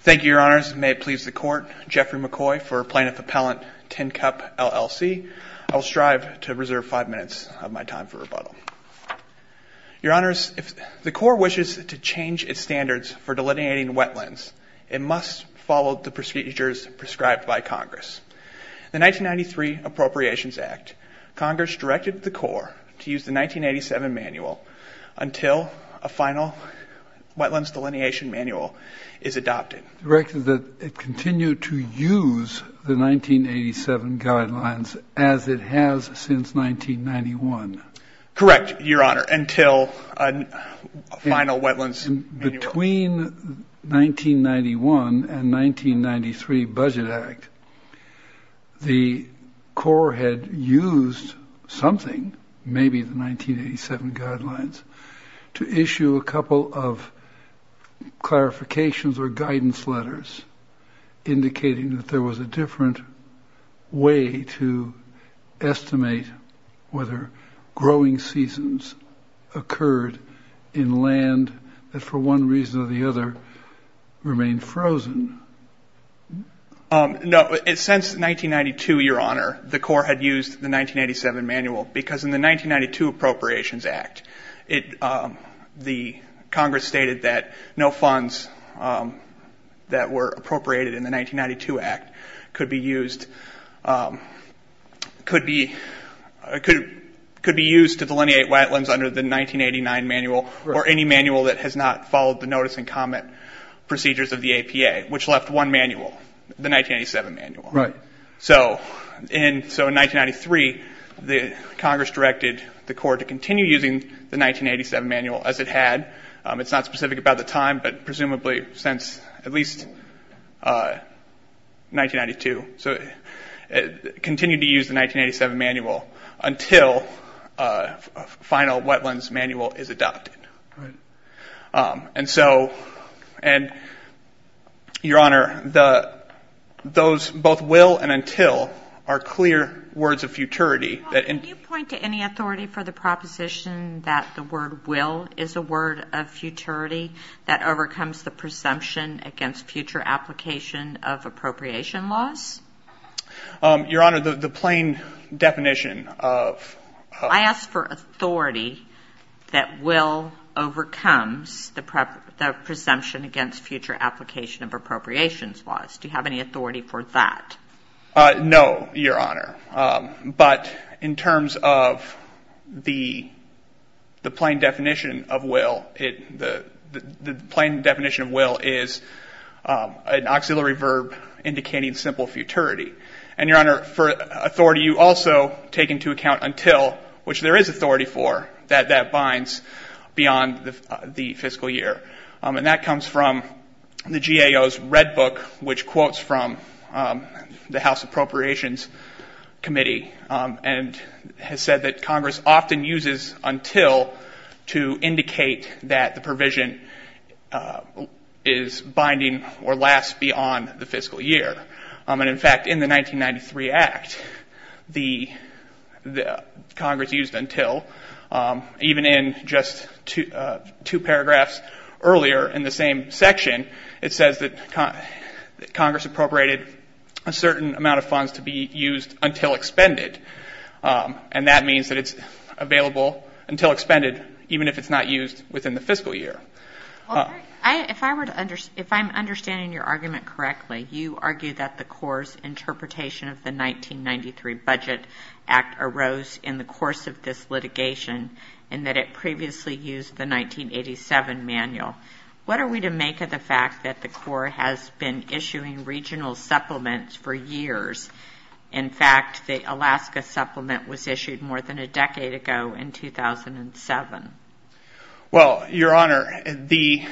Thank you, Your Honors. May it please the Court, Jeffrey McCoy for Plaintiff Appellant Tin Cup, LLC. I will strive to reserve five minutes of my time for rebuttal. Your Honors, if the Corps wishes to change its standards for delineating wetlands, it must follow the procedures prescribed by Congress. In the 1993 Appropriations Act, Congress directed the Corps to use the 1987 manual until a final wetlands delineation manual is adopted. Directed that it continue to use the 1987 guidelines as it has since 1991. Correct, Your Honor, until a final wetlands manual. Between 1991 and 1993 Budget Act, the Corps had used something, maybe the 1987 guidelines, to issue a couple of clarifications or guidance letters indicating that there was a different way to estimate whether growing seasons occurred in land that for one reason or the other remained frozen. No, since 1992, Your Honor, the Corps had used the 1987 manual because in the 1992 Appropriations Act, Congress stated that no funds that were appropriated in the 1992 Act could be used to delineate wetlands under the 1989 manual or any manual that has not followed the notice and comment procedures of the APA, which left one manual, the 1987 manual. Right. So in 1993, Congress directed the Corps to continue using the 1987 manual as it had. It's not specific about the time, but presumably since at least 1992. So it continued to use the 1987 manual until a final wetlands manual is adopted. Right. And so, Your Honor, those both will and until are clear words of futurity. Can you point to any authority for the proposition that the word will is a word of futurity that overcomes the presumption against future application of appropriation laws? Your Honor, the plain definition of... I asked for authority that will overcomes the presumption against future application of appropriations laws. Do you have any authority for that? No, Your Honor. But in terms of the plain definition of will, the plain definition of will is an auxiliary verb indicating simple futurity. And Your Honor, for authority, you also take into account until, which there is authority for, that that binds beyond the fiscal year. And that comes from the GAO's Red Book, which quotes from the House Appropriations Committee and has said that Congress often uses until to indicate that the provision is binding or lasts beyond the fiscal year. And in fact, in the 1993 Act, the Congress used until, even in just two paragraphs earlier in the same section, it says that Congress appropriated a certain amount of funds to be used until expended. And that means that is available until expended, even if it's not used within the fiscal year. If I'm understanding your argument correctly, you argue that the Corps' interpretation of the 1993 Budget Act arose in the course of this litigation and that it previously used the 1987 manual. What are we to make of the fact that the Corps has been issuing regional supplements for years? In fact, the Alaska supplement was issued more than a decade ago in 2007. Well, Your Honor, the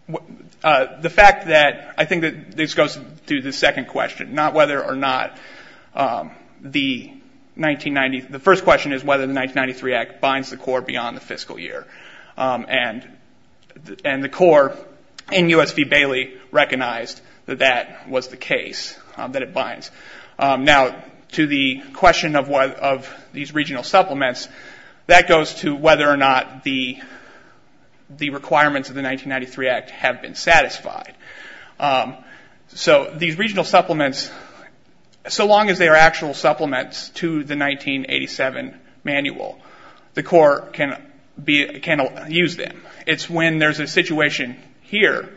fact that, I think that this goes to the second question, not whether or not the 1990, the first question is whether the 1993 Act binds the Corps beyond the fiscal year. And the Corps, in U.S. v. Bailey, recognized that that was the case, that it binds. Now, to the question of these regional supplements, that goes to whether or not the requirements of the 1993 Act have been satisfied. So these regional supplements, so long as they are actual supplements to the 1987 manual, the Corps can use them. It's when there's a situation here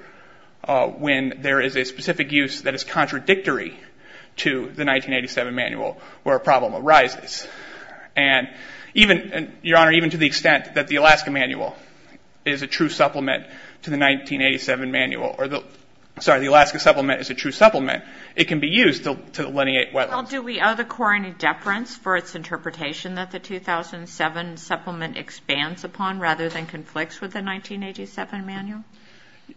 when there is a specific use that is contradictory to the 1987 manual where a problem arises. And even, Your Honor, even to the extent that the Alaska manual is a true supplement to the 1987 manual, sorry, the Alaska supplement is a true supplement, it can be used to delineate whether. Well, do we owe the Corps any deference for its interpretation that the 2007 supplement expands upon rather than conflicts with the 1987 manual?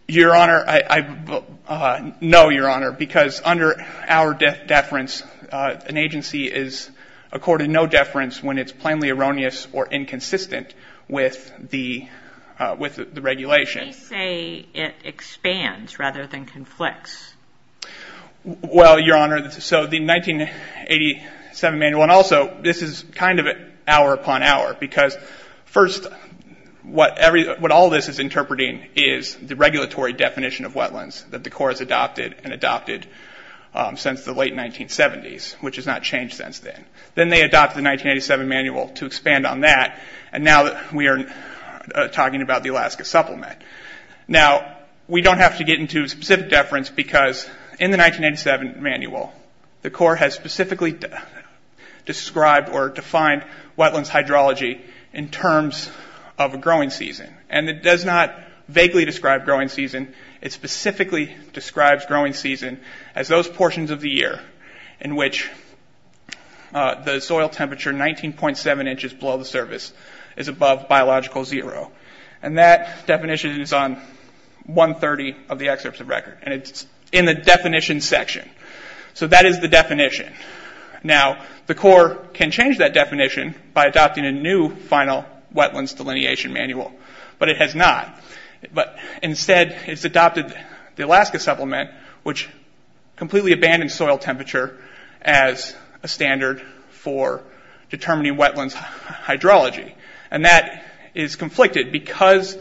Your Honor, I, no, Your Honor, because under our deference, an agency is accorded no deference when it's plainly erroneous or inconsistent with the, with the regulation. They say it expands rather than conflicts. Well, Your Honor, so the 1987 manual, and also, this is kind of an hour upon hour, because first, what every, what all this is interpreting is the regulatory definition of wetlands that the Corps has adopted and adopted since the late 1970s, which has not changed since then. Then they adopted the 1987 manual to expand on that, and now we are talking about the Because in the 1987 manual, the Corps has specifically described or defined wetlands hydrology in terms of a growing season, and it does not vaguely describe growing season. It specifically describes growing season as those portions of the year in which the soil temperature 19.7 inches below the surface is above biological zero. And that definition is on 130 of the excerpts of record, and it's in the definition section. So that is the definition. Now the Corps can change that definition by adopting a new final wetlands delineation manual, but it has not. But instead, it's adopted the Alaska Supplement, which completely abandons soil temperature as a standard for determining wetlands hydrology. And that is conflicted because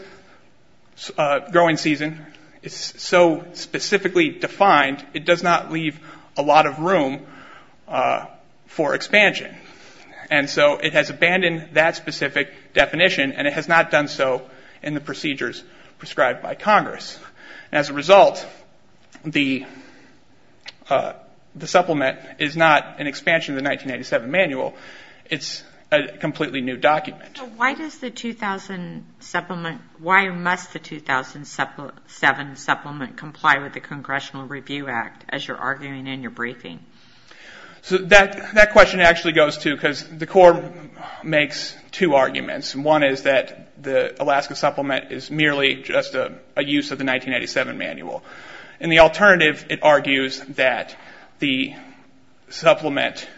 growing season is so specifically defined, it does not leave a lot of room for expansion. And so it has abandoned that specific definition, and it has not done so in the procedures prescribed by Congress. As a result, the Supplement is not an expansion of the 1987 manual. It's a completely new document. Why does the 2000 Supplement, why must the 2007 Supplement comply with the Congressional Review Act, as you're arguing in your briefing? So that question actually goes to, because the Corps makes two arguments. One is that the Alaska Supplement is merely just a use of the 1987 manual. In the alternative, it argues that the Supplement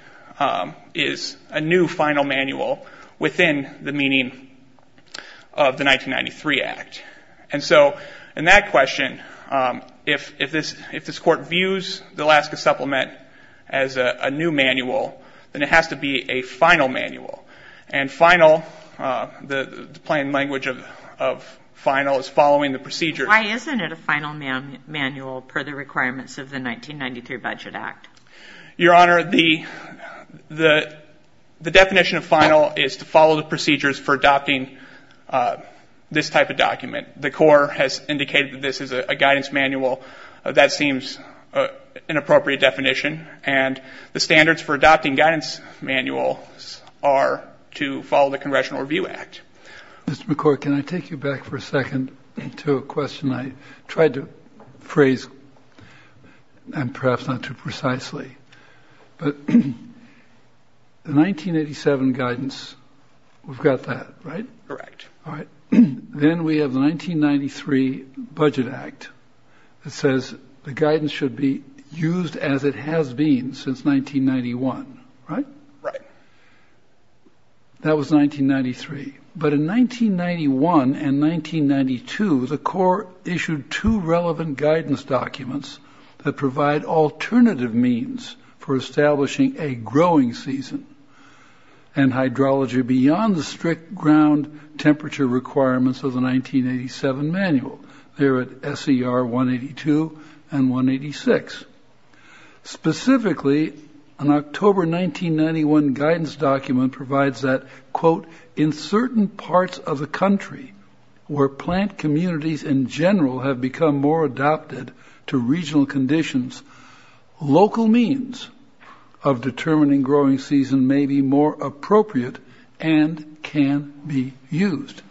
is a new final manual within the meaning of the 1993 Act. And so in that question, if this Court views the Alaska Supplement as a new manual, then it has to be a final manual. And final, the plain language of final is following the procedures. Why isn't it a final manual per the requirements of the 1993 Budget Act? Your Honor, the definition of final is to follow the procedures for adopting this type of document. The Corps has indicated that this is a guidance manual. That seems an appropriate definition. And the standards for adopting guidance manuals are to follow the Congressional Review Act. Mr. McCord, can I take you back for a second to a question I tried to phrase, and perhaps not too precisely. But the 1987 guidance, we've got that, right? Correct. All right. Then we have the 1993 Budget Act that says the guidance should be used as it has been since 1991, right? Right. That was 1993. But in 1991 and 1992, the Corps issued two relevant guidance documents that provide alternative means for establishing a growing season and hydrology beyond the strict ground temperature requirements of the 1987 manual. They're at SER 182 and 186. Specifically, an October 1991 guidance document provides that, quote, in certain parts of the country where plant communities in general have become more adopted to regional conditions, local means of determining growing season may be more appropriate and can be used.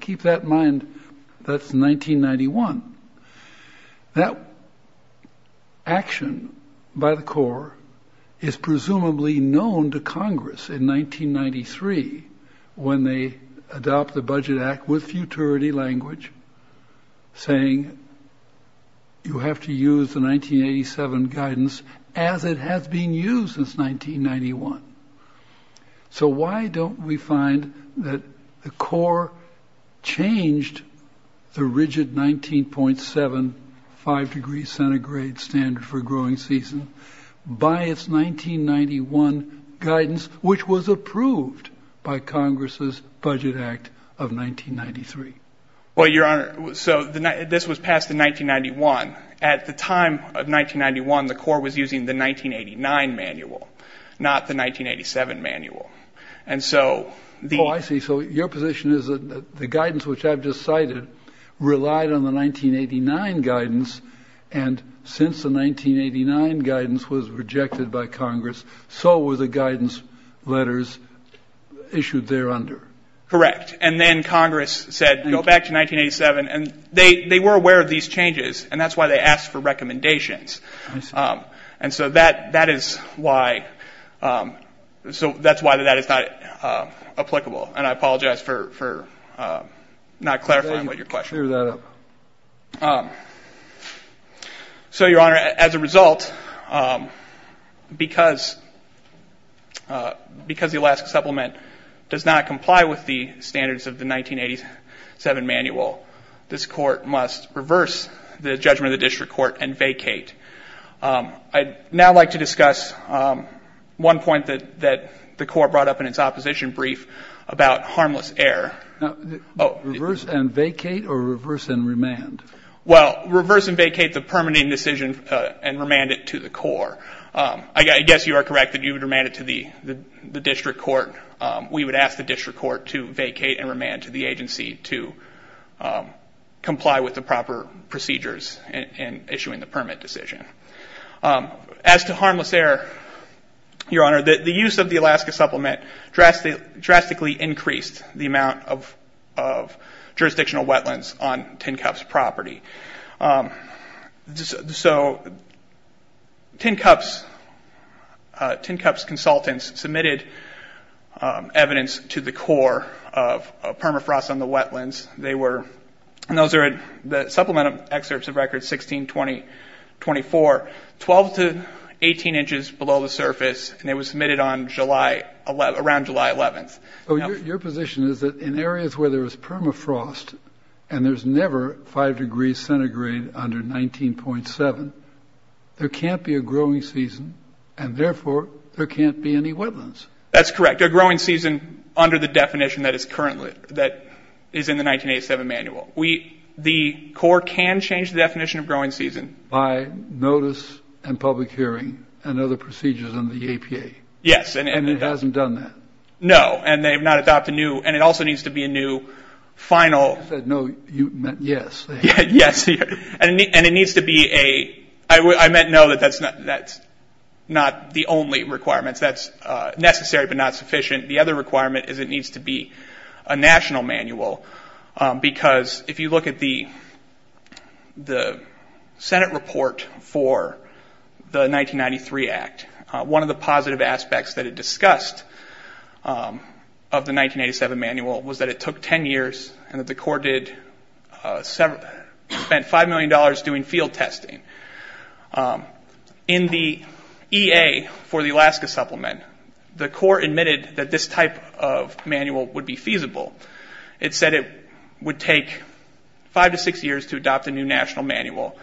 Keep that in mind, that's 1991. That action by the Corps is presumably known to Congress in 1993 when they adopt the Budget Act with futurity language, saying you have to use the 1987 guidance as it has been used since 1991. So, why don't we find that the Corps changed the rigid 19.75 degree centigrade standard for growing season by its 1991 guidance, which was approved by Congress' Budget Act of 1993? Well, Your Honor, so this was passed in 1991. At the time of 1991, the Corps was using the 1989 manual, not the 1987 manual. And so, the... Oh, I see. So your position is that the guidance which I've just cited relied on the 1989 guidance, and since the 1989 guidance was rejected by Congress, so were the guidance letters issued there under. Correct. And then Congress said, go back to 1987. And they were aware of these changes, and that's why they asked for recommendations. And so, that is why that is not applicable, and I apologize for not clarifying what your question was. Clear that up. So Your Honor, as a result, because the Alaska Supplement does not comply with the standards of the 1987 manual, this Court must reverse the judgment of the District Court and vacate. I'd now like to discuss one point that the Corps brought up in its opposition brief about harmless air. Reverse and vacate, or reverse and remand? Well, reverse and vacate the permitting decision and remand it to the Corps. I guess you are correct that you would remand it to the District Court. We would ask the District Court to vacate and remand it to the agency to comply with the proper procedures in issuing the permit decision. As to harmless air, Your Honor, the use of the Alaska Supplement drastically increased the amount of jurisdictional wetlands on Tin Cup's property. So, Tin Cup's consultants submitted evidence to the Corps of permafrost on the wetlands. They were, and those are the supplemental excerpts of records 16-20-24, 12 to 18 inches below the surface, and it was submitted on July, around July 11th. Your position is that in areas where there is permafrost, and there's never 5 degrees centigrade under 19.7, there can't be a growing season, and therefore there can't be any wetlands. That's correct. A growing season under the definition that is currently, that is in the 1987 manual. We, the Corps can change the definition of growing season. By notice and public hearing and other procedures under the APA. Yes. And it hasn't done that? No, and they've not adopted a new, and it also needs to be a new final... I said no, you meant yes. Yes, and it needs to be a, I meant no, that's not the only requirements. That's necessary, but not sufficient. The other requirement is it needs to be a national manual, because if you look at the Senate report for the 1993 Act, one of the positive aspects that it discussed, of the 1987 manual, was that it took 10 years, and that the Corps did, spent $5 million doing field testing. In the EA for the Alaska supplement, the Corps admitted that this type of manual would be feasible. It said it would take 5 to 6 years to adopt a new national manual.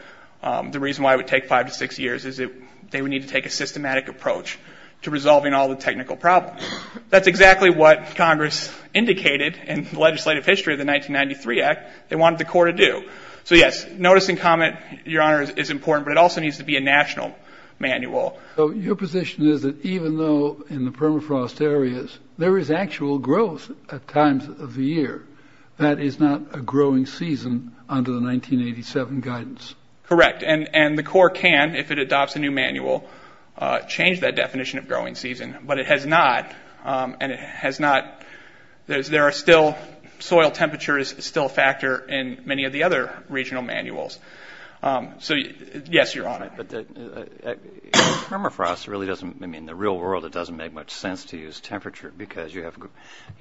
The reason why it would take 5 to 6 years is that they would need to take a systematic approach to resolving all the technical problems. That's exactly what Congress indicated in the legislative history of the 1993 Act, they wanted the Corps to do. So yes, notice and comment, your honor, is important, but it also needs to be a national manual. Your position is that even though in the permafrost areas, there is actual growth at times of the year, that is not a growing season under the 1987 guidance. Correct, and the Corps can, if it adopts a new manual, change that definition of growing season, but it has not, and it has not, there are still, soil temperature is still a factor in many of the other regional manuals. So yes, your honor. But the permafrost really doesn't, I mean in the real world it doesn't make much sense to use temperature, because you have,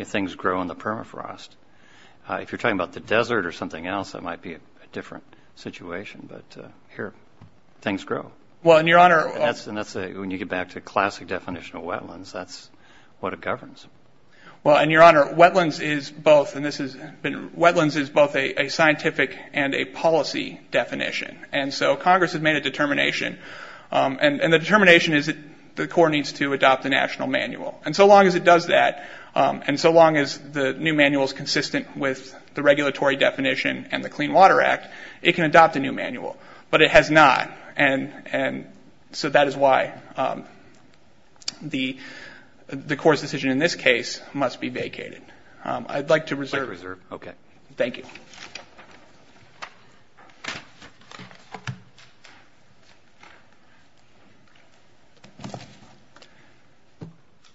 things grow in the permafrost. If you're talking about the desert or something else, that might be a different situation, but here, things grow. And that's, when you get back to a classic definition of wetlands, that's what it governs. Well, and your honor, wetlands is both, and this has been, wetlands is both a scientific and a policy definition, and so Congress has made a determination, and the determination is that the Corps needs to adopt a national manual. And so long as it does that, and so the regulatory definition, and the Clean Water Act, it can adopt a new manual, but it has not, and so that is why the Corps' decision in this case must be vacated. I'd like to reserve. Like to reserve, okay. Thank you.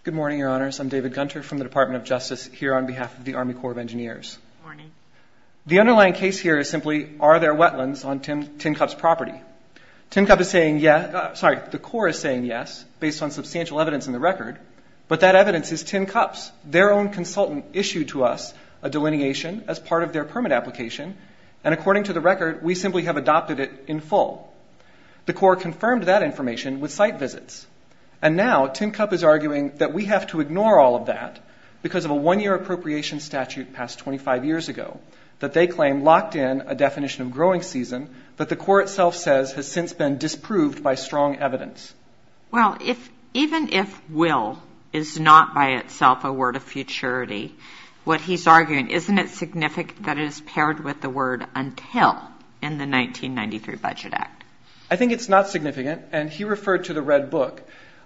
Good morning, your honors. I'm David Gunter from the Department of Justice, here on behalf of the Army Corps of Engineers. Good morning. The underlying case here is simply, are there wetlands on Tin Cup's property? Tin Cup is saying yes, sorry, the Corps is saying yes, based on substantial evidence in the record, but that evidence is Tin Cup's. Their own consultant issued to us a delineation as part of their permit application, and according to the record, we simply have adopted it in full. The Corps confirmed that information with site visits, and now Tin Cup is arguing that we have to ignore all of that because of a one-year appropriation statute passed 25 years ago that they claim locked in a definition of growing season that the Corps itself says has since been disproved by strong evidence. Well, even if will is not by itself a word of futurity, what he's arguing, isn't it significant that it is paired with the word until in the 1993 Budget Act? I think it's not significant, and he referred to the Red Book.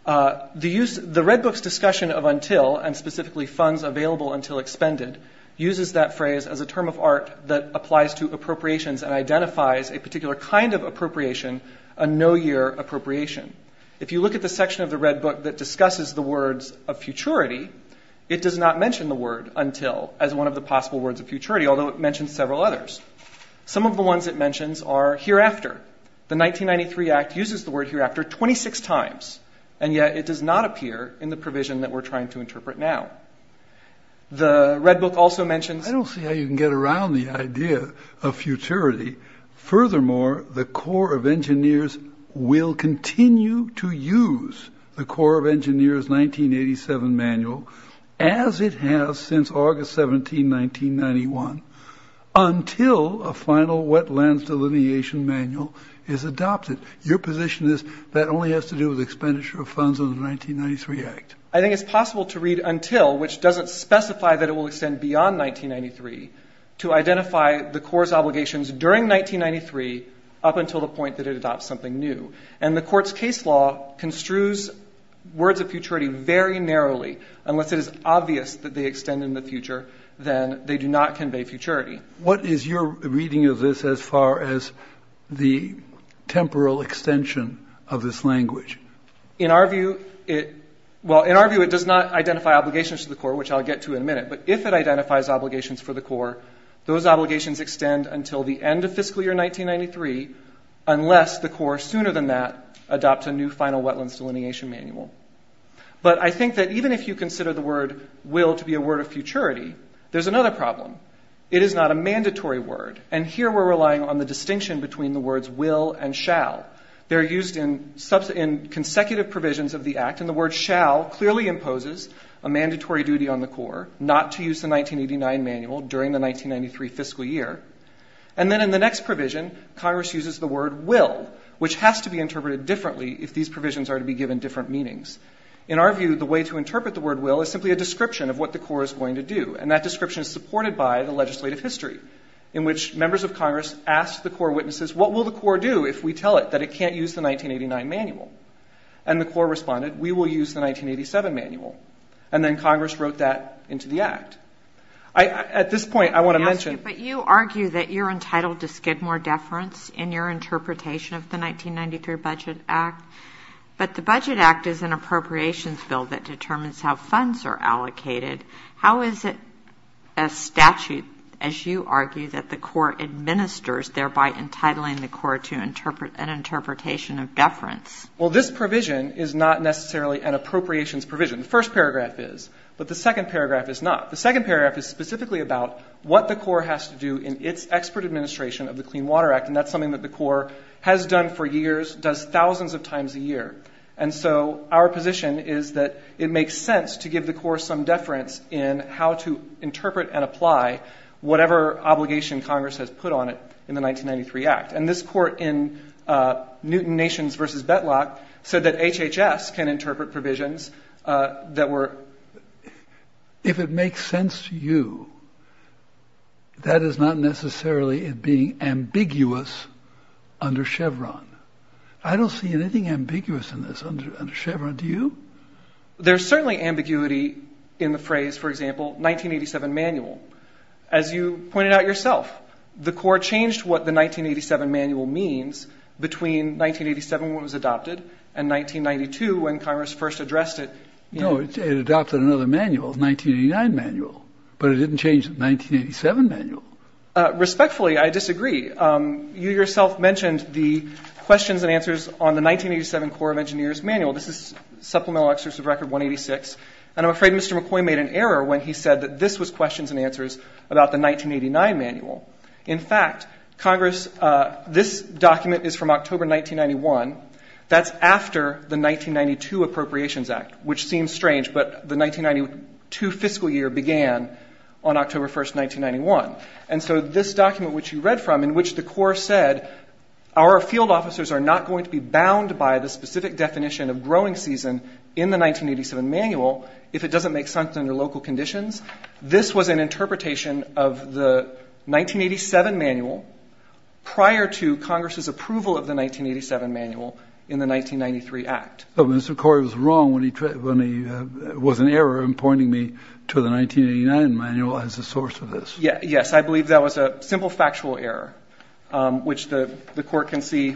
The Red Book's discussion of until, and specifically funds available until expended, uses that phrase as a term of art that applies to appropriations and identifies a particular kind of appropriation, a no-year appropriation. If you look at the section of the Red Book that discusses the words of futurity, it does not mention the word until as one of the possible words of futurity, although it mentions several others. Some of the ones it mentions are hereafter, the 1993 Act uses the word hereafter 26 times, and yet it does not appear in the provision that we're trying to interpret now. The Red Book also mentions- I don't see how you can get around the idea of futurity. Furthermore, the Corps of Engineers will continue to use the Corps of Engineers 1987 manual as it has since August 17, 1991 until a final wetlands delineation manual is adopted. Your position is that only has to do with expenditure of funds under the 1993 Act. I think it's possible to read until, which doesn't specify that it will extend beyond 1993, to identify the Corps' obligations during 1993 up until the point that it adopts something new. And the Court's case law construes words of futurity very narrowly. Unless it is obvious that they extend in the future, then they do not convey futurity. What is your reading of this as far as the temporal extension of this language? In our view, it does not identify obligations to the Corps, which I'll get to in a minute, but if it identifies obligations for the Corps, those obligations extend until the end of fiscal year 1993, unless the Corps sooner than that adopts a new final wetlands delineation manual. But I think that even if you consider the word will to be a word of futurity, there's another problem. It is not a mandatory word, and here we're relying on the distinction between the words will and shall. They're used in consecutive provisions of the Act, and the word shall clearly imposes a mandatory duty on the Corps not to use the 1989 manual during the 1993 fiscal year. And then in the next provision, Congress uses the word will, which has to be interpreted differently if these provisions are to be given different meanings. In our view, the way to interpret the word will is simply a description of what the Corps is going to do, and that description is supported by the legislative history, in which members of Congress asked the Corps witnesses, what will the Corps do if we tell it that it can't use the 1989 manual? And the Corps responded, we will use the 1987 manual. And then Congress wrote that into the Act. At this point, I want to mention... But you argue that you're entitled to skid more deference in your interpretation of the 1993 Budget Act, but the Budget Act is an appropriations bill that determines how funds are allocated. How is it a statute, as you argue, that the Corps administers, thereby entitling the Corps to an interpretation of deference? Well, this provision is not necessarily an appropriations provision. The first paragraph is, but the second paragraph is not. The second paragraph is specifically about what the Corps has to do in its expert administration of the Clean Water Act, and that's something that the Corps has done for years, does thousands of times a year. And so our position is that it makes sense to give the Corps some deference in how to interpret and apply whatever obligation Congress has put on it in the 1993 Act. And this Court in Newton Nations v. Bettelock said that HHS can interpret provisions that were... Just to you, that is not necessarily it being ambiguous under Chevron. I don't see anything ambiguous in this under Chevron. Do you? There's certainly ambiguity in the phrase, for example, 1987 Manual. As you pointed out yourself, the Corps changed what the 1987 Manual means between 1987 when it was adopted and 1992 when Congress first addressed it. No, it adopted another manual, the 1989 Manual, but it didn't change the 1987 Manual. Respectfully, I disagree. You yourself mentioned the questions and answers on the 1987 Corps of Engineers Manual. This is Supplemental Excerpts of Record 186. And I'm afraid Mr. McCoy made an error when he said that this was questions and answers about the 1989 Manual. In fact, Congress, this document is from October 1991. That's after the 1992 Appropriations Act, which seems strange, but the 1992 fiscal year began on October 1st, 1991. And so this document which you read from, in which the Corps said, our field officers are not going to be bound by the specific definition of growing season in the 1987 Manual if it doesn't make sense under local conditions, this was an interpretation of the 1987 Manual prior to Congress's approval of the 1987 Manual in the 1993 Act. But Mr. McCoy was wrong when he was an error in pointing me to the 1989 Manual as a source of this. Yes. I believe that was a simple factual error, which the Court can see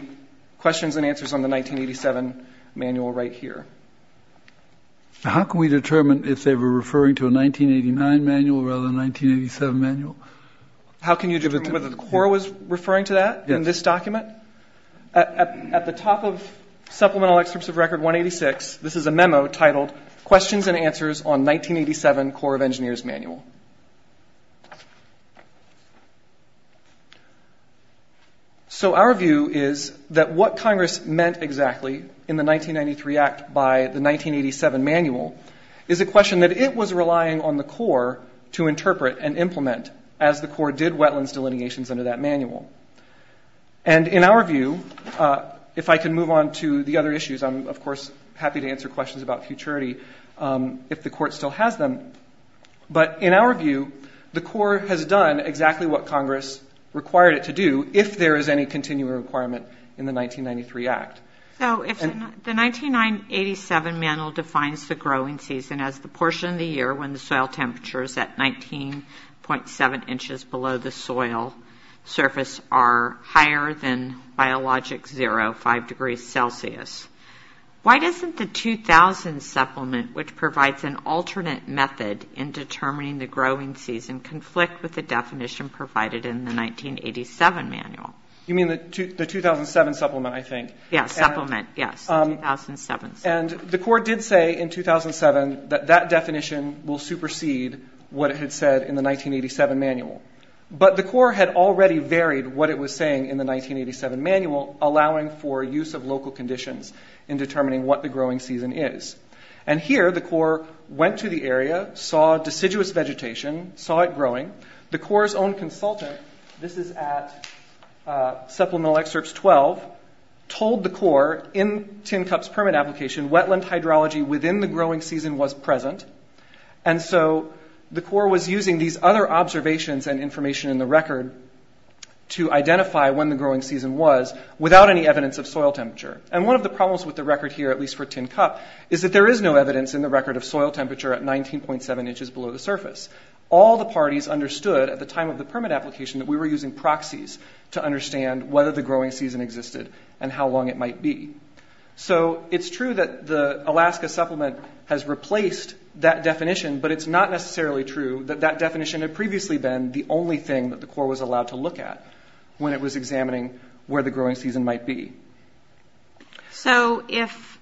questions and answers on the 1987 Manual right here. How can we determine if they were referring to a 1989 Manual rather than a 1987 Manual? How can you determine whether the Corps was referring to that in this document? At the top of Supplemental Excerpts of Record 186, this is a memo titled, Questions and Answers on 1987 Corps of Engineers Manual. So our view is that what Congress meant exactly in the 1993 Act by the 1987 Manual is a question that it was relying on the Corps to interpret and implement as the Corps did wetlands delineations under that Manual. And in our view, if I can move on to the other issues, I'm, of course, happy to answer questions about futurity if the Court still has them. But in our view, the Corps has done exactly what Congress required it to do if there is any continuing requirement in the 1993 Act. So if the 1987 Manual defines the growing season as the portion of the year when the are higher than biologic zero, 5 degrees Celsius, why doesn't the 2000 Supplement, which provides an alternate method in determining the growing season, conflict with the definition provided in the 1987 Manual? You mean the 2007 Supplement, I think? Yes, Supplement, yes, 2007. And the Corps did say in 2007 that that definition will supersede what it had said in the 1987 Manual. But the Corps had already varied what it was saying in the 1987 Manual, allowing for use of local conditions in determining what the growing season is. And here, the Corps went to the area, saw deciduous vegetation, saw it growing. The Corps' own consultant, this is at Supplemental Excerpts 12, told the Corps in Tin Cup's permit application wetland hydrology within the growing season was present. And so the Corps was using these other observations and information in the record to identify when the growing season was without any evidence of soil temperature. And one of the problems with the record here, at least for Tin Cup, is that there is no evidence in the record of soil temperature at 19.7 inches below the surface. All the parties understood at the time of the permit application that we were using proxies to understand whether the growing season existed and how long it might be. So it's true that the Alaska Supplement has replaced that definition, but it's not necessarily true that that definition had previously been the only thing that the Corps was allowed to look at when it was examining where the growing season might be. So if,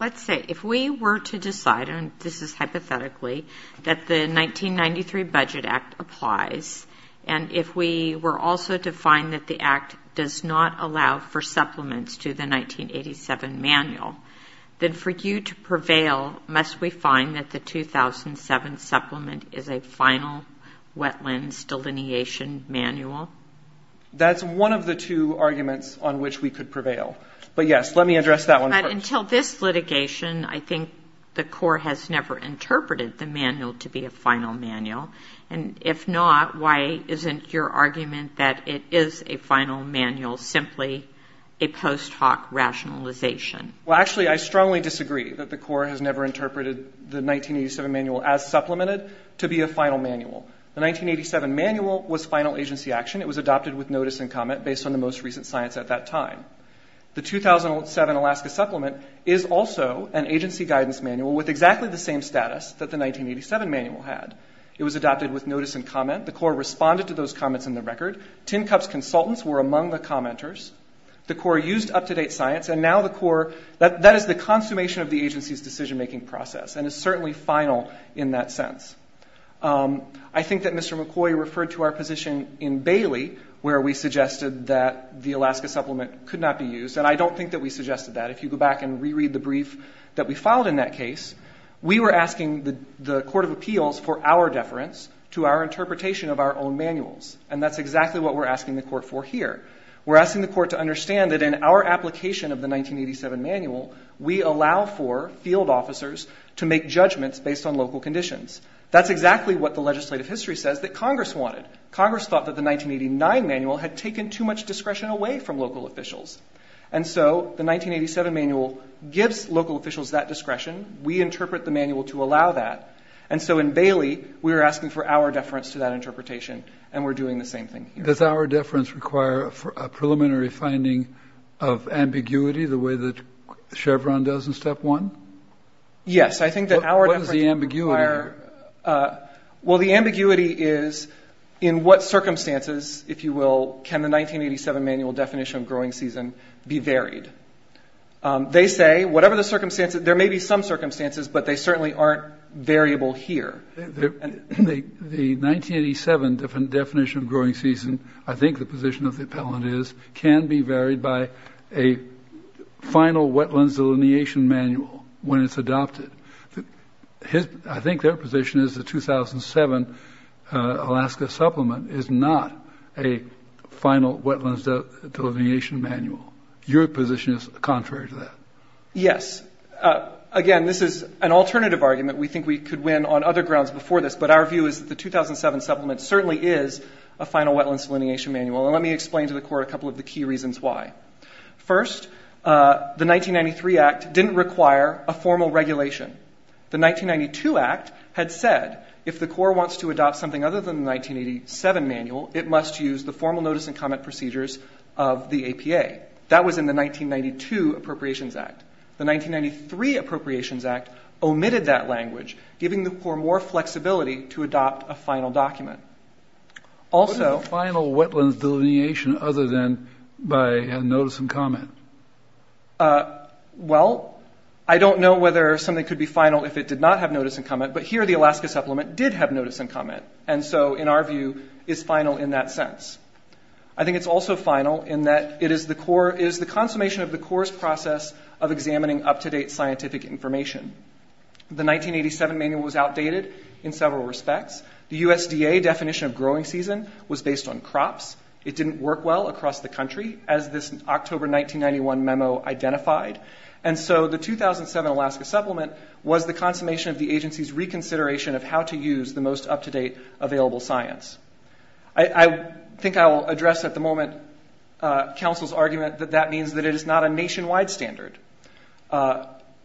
let's say, if we were to decide, and this is hypothetically, that the 1993 Budget Act applies, and if we were also to find that the Act does not allow for supplements to the 1987 manual, then for you to prevail, must we find that the 2007 Supplement is a final wetlands delineation manual? That's one of the two arguments on which we could prevail. But yes, let me address that one first. But until this litigation, I think the Corps has never interpreted the manual to be a final rationalization. Well, actually, I strongly disagree that the Corps has never interpreted the 1987 Manual as supplemented to be a final manual. The 1987 Manual was final agency action. It was adopted with notice and comment based on the most recent science at that time. The 2007 Alaska Supplement is also an agency guidance manual with exactly the same status that the 1987 Manual had. It was adopted with notice and comment. The Corps responded to those comments in the record. Tin Cup's consultants were among the commenters. The Corps used up-to-date science, and now the Corps, that is the consummation of the agency's decision-making process and is certainly final in that sense. I think that Mr. McCoy referred to our position in Bailey where we suggested that the Alaska Supplement could not be used, and I don't think that we suggested that. If you go back and reread the brief that we filed in that case, we were asking the Court of Appeals for our deference to our interpretation of our own manuals, and that's exactly what we're asking the Court for here. We're asking the Court to understand that in our application of the 1987 Manual, we allow for field officers to make judgments based on local conditions. That's exactly what the legislative history says that Congress wanted. Congress thought that the 1989 Manual had taken too much discretion away from local officials, and so the 1987 Manual gives local officials that discretion. We interpret the manual to allow that, and so in Bailey, we were asking for our deference to that interpretation, and we're doing the same thing here. Does our deference require a preliminary finding of ambiguity the way that Chevron does in Step 1? Yes. I think that our deference requires What is the ambiguity? Well, the ambiguity is in what circumstances, if you will, can the 1987 Manual definition of growing season be varied? They say whatever the circumstances, there may be some circumstances, but they certainly aren't variable here. The 1987 definition of growing season, I think the position of the appellant is, can be varied by a final wetlands delineation manual when it's adopted. I think their position is the 2007 Alaska Supplement is not a final wetlands delineation manual. Your position is contrary to that. Yes. Again, this is an alternative argument. We think we could win on other grounds before this, but our view is that the 2007 Supplement certainly is a final wetlands delineation manual, and let me explain to the Court a couple of the key reasons why. First, the 1993 Act didn't require a formal regulation. The 1992 Act had said if the Court wants to adopt something other than the 1987 Manual, it must use the formal notice and comment. The 1993 Appropriations Act omitted that language, giving the Court more flexibility to adopt a final document. What is a final wetlands delineation other than by notice and comment? Well, I don't know whether something could be final if it did not have notice and comment, but here the Alaska Supplement did have notice and comment, and so in our view, it's final in that sense. I think it's also final in that it is the consummation of the Court's process of examining up-to-date scientific information. The 1987 Manual was outdated in several respects. The USDA definition of growing season was based on crops. It didn't work well across the country, as this October 1991 memo identified, and so the 2007 Alaska Supplement was the consummation of the agency's reconsideration of how to use the most up-to-date available science. I think I will address at the moment counsel's argument that that means that it is not a nationwide standard.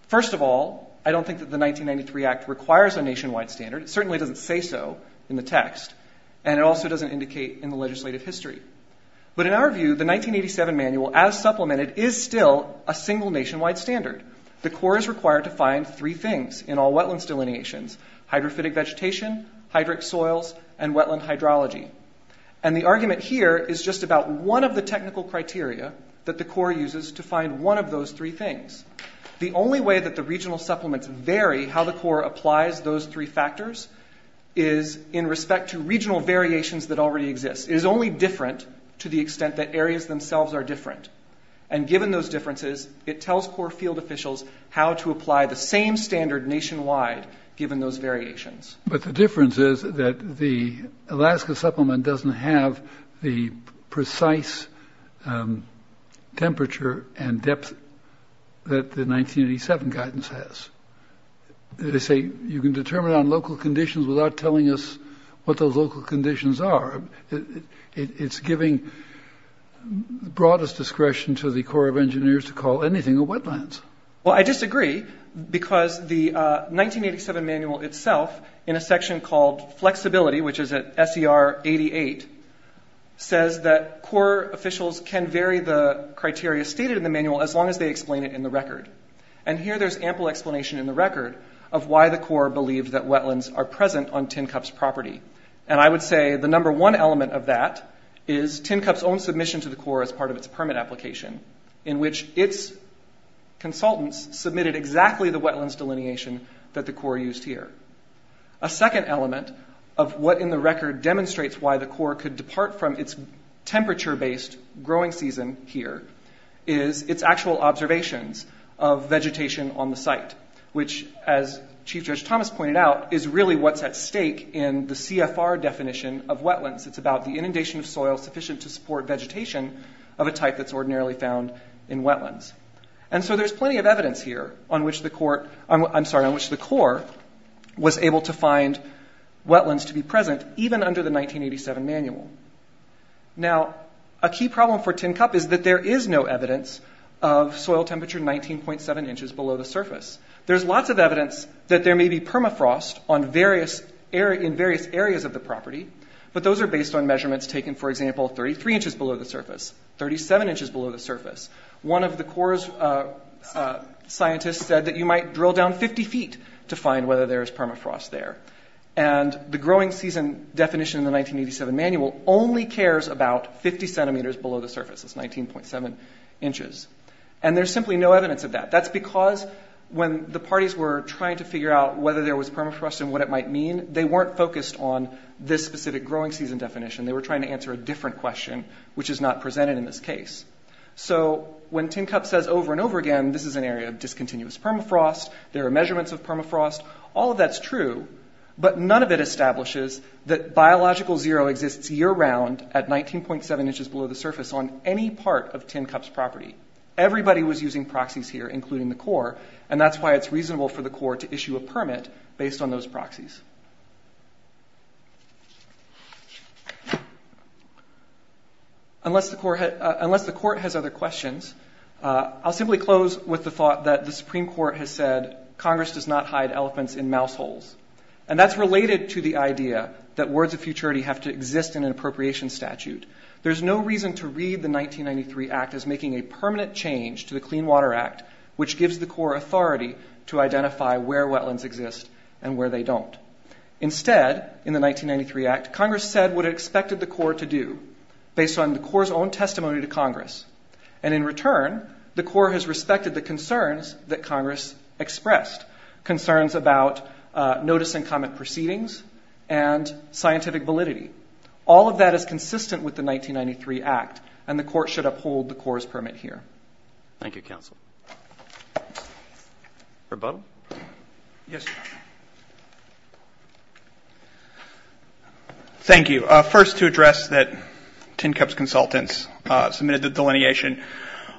First of all, I don't think that the 1993 Act requires a nationwide standard. It certainly doesn't say so in the text, and it also doesn't indicate in the legislative history, but in our view, the 1987 Manual, as supplemented, is still a single nationwide standard. The Court is required to find three things in all wetlands delineations – hydrophytic vegetation, hydric soils, and wetland hydrology – and the argument here is just about one of the technical criteria that the Court uses to find one of those three things. The only way that the regional supplements vary how the Court applies those three factors is in respect to regional variations that already exist. It is only different to the extent that areas themselves are different, and given those differences, it tells Court field officials how to apply the same standard nationwide, given those variations. But the difference is that the Alaska supplement doesn't have the precise temperature and depth that the 1987 guidance has. They say you can determine on local conditions without telling us what those local conditions are. It's giving broadest discretion to the Corps of Engineers to call anything a wetlands. Well, I disagree, because the 1987 Manual itself, in a section called Flexibility, which is at SER 88, says that Corps officials can vary the criteria stated in the Manual as long as they explain it in the record. And here there's ample explanation in the record of why the Corps believed that wetlands are present on Tin Cup's property. And I would say the number one element of that is Tin Cup's own submission to the Corps as part of its permit application, in which its consultants submitted exactly the wetlands delineation that the Corps used here. A second element of what in the record demonstrates why the Corps could depart from its temperature-based growing season here is its actual observations of vegetation on the site, which, as Chief Judge Thomas pointed out, is really what's at stake in the CFR definition of wetlands. It's about the inundation of soil sufficient to support vegetation of a type that's ordinarily found in wetlands. And so there's plenty of evidence here on which the Corps was able to find wetlands to be present, even under the 1987 Manual. Now, a key problem for Tin Cup is that there is no evidence of soil temperature 19.7 inches below the surface. There's lots of evidence that there may be permafrost in 33 inches below the surface, 37 inches below the surface. One of the Corps' scientists said that you might drill down 50 feet to find whether there is permafrost there. And the growing season definition in the 1987 Manual only cares about 50 centimeters below the surface. It's 19.7 inches. And there's simply no evidence of that. That's because when the parties were trying to figure out whether there was permafrost and what it might mean, they weren't focused on this specific growing season definition. They were trying to answer a different question, which is not presented in this case. So when Tin Cup says over and over again, this is an area of discontinuous permafrost, there are measurements of permafrost, all of that's true, but none of it establishes that biological zero exists year-round at 19.7 inches below the surface on any part of Tin Cup's property. Everybody was using proxies here, including the Corps, and that's why it's reasonable for the Corps to issue a permit based on those proxies. Unless the Court has other questions, I'll simply close with the thought that the Supreme Court has said, Congress does not hide elephants in mouse holes. And that's related to the idea that words of futurity have to exist in an appropriation statute. There's no reason to read the 1993 Act as making a permanent change to the Clean Water Act, which gives the Corps authority to identify where wetlands exist and where they don't. Instead, in the 1993 Act, Congress said what it expected the Corps to do, based on the Corps' own testimony to Congress. And in return, the Corps has respected the concerns that Congress expressed, concerns about notice and comment proceedings and scientific validity. All of that is consistent with the 1993 Act, and the Court should uphold the Corps' permit here. Thank you, Counsel. Rebuttal? Yes. Thank you. First, to address that Tin Cup's consultants submitted the delineation.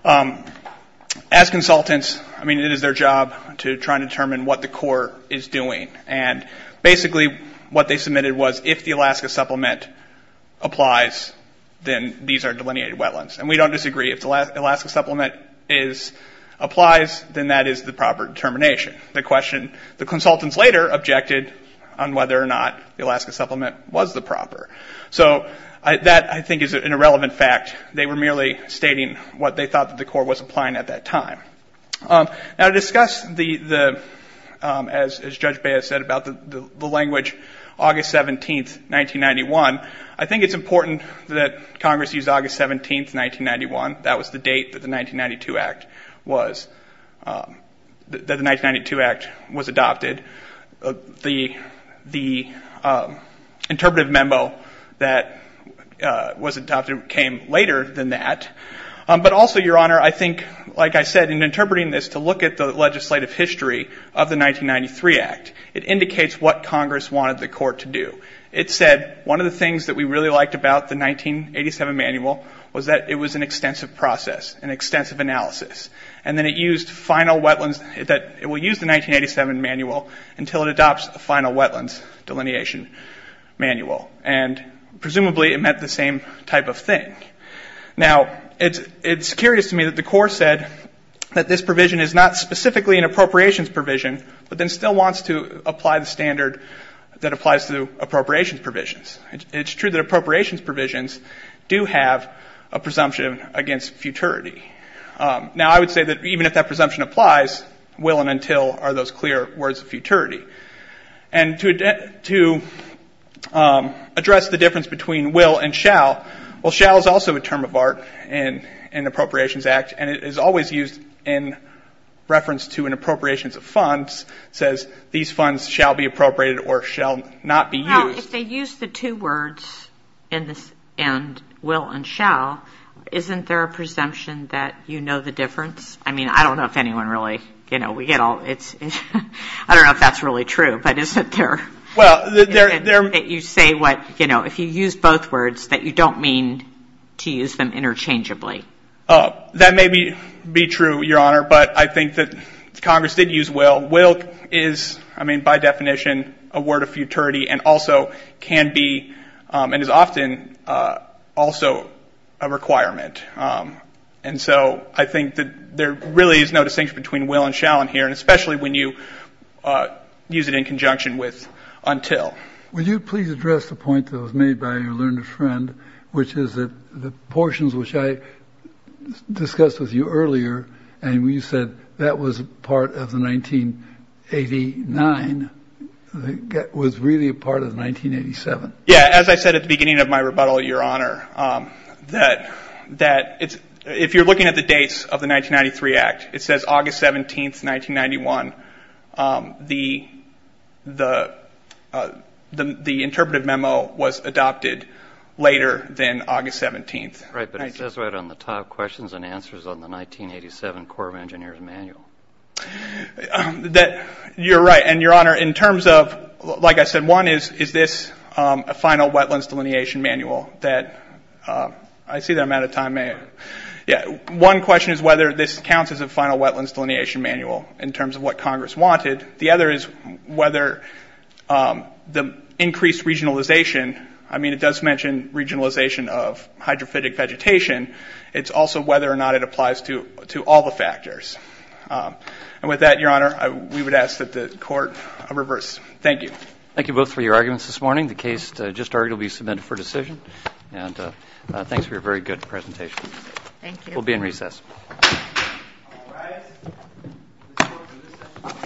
As consultants, it is their job to try and determine what the Corps is doing. And basically, what they submitted was, if the Alaska Supplement applies, then these are delineated wetlands. And we don't disagree. If the Alaska Supplement applies, then that is the proper determination. The question, the consultants later objected on whether or not the Alaska Supplement was the proper. So that, I think, is an irrelevant fact. They were merely stating what they thought the Corps was applying at that time. Now to I think it's important that Congress use August 17, 1991. That was the date that the 1992 Act was, that the 1992 Act was adopted. The interpretive memo that was adopted came later than that. But also, Your Honor, I think, like I said, in interpreting this, to look at the legislative history of the 1993 Act, it indicates what Congress wanted the Corps to do. It said, one of the things that we really liked about the 1987 manual was that it was an extensive process, an extensive analysis. And then it used final wetlands, it will use the 1987 manual until it adopts a final wetlands delineation manual. And presumably, it meant the same type of thing. Now, it's curious to me that the Corps said that this provision is not specifically an appropriations provision, but then still wants to apply the standard that applies to appropriations provisions. It's true that appropriations provisions do have a presumption against futurity. Now I would say that even if that presumption applies, will and until are those clear words of futurity. And to address the difference between will and shall, well, shall is also a term of art in the Appropriations Act, and it is always used in reference to an appropriations of funds, says, these funds shall be appropriated or shall not be used. Well, if they use the two words in this, and will and shall, isn't there a presumption that you know the difference? I mean, I don't know if anyone really, you know, we get all, it's, I don't know if that's really true, but isn't there, that you say what, you know, if you use both words, that you don't mean to use them interchangeably. That may be true, Your Honor, but I think that Congress did use will. Will is, I mean, by definition, a word of futurity and also can be, and is often also a requirement. And so I think that there really is no distinction between will and shall in here, and especially when you use it in conjunction with until. Will you please address the point that was made by your learned friend, which is that the portions which I discussed with you earlier, and you said that was part of the 1989, was really a part of 1987. Yeah, as I said at the beginning of my rebuttal, Your Honor, that it's, if you're looking at the dates of the 1993 Act, it says August 17th, 1991. The interpretive memo was adopted later than August 17th. Right, but it says right on the top, questions and answers on the 1987 Corps of Engineers manual. You're right, and Your Honor, in terms of, like I said, one is, is this a final wetlands delineation manual that, I see that I'm out of time, may I? Yeah, one question is whether this counts as a final wetlands delineation manual in terms of what Congress wanted. The other is whether the increased regionalization, I mean it does mention regionalization of hydrophytic vegetation, it's also whether or not it applies to all the factors. And with that, Your Honor, we would ask that the Court reverse. Thank you. Thank you both for your arguments this morning. The case just argued will be submitted for decision, and thanks for your very good presentation. Thank you. We'll be in recess. All rise.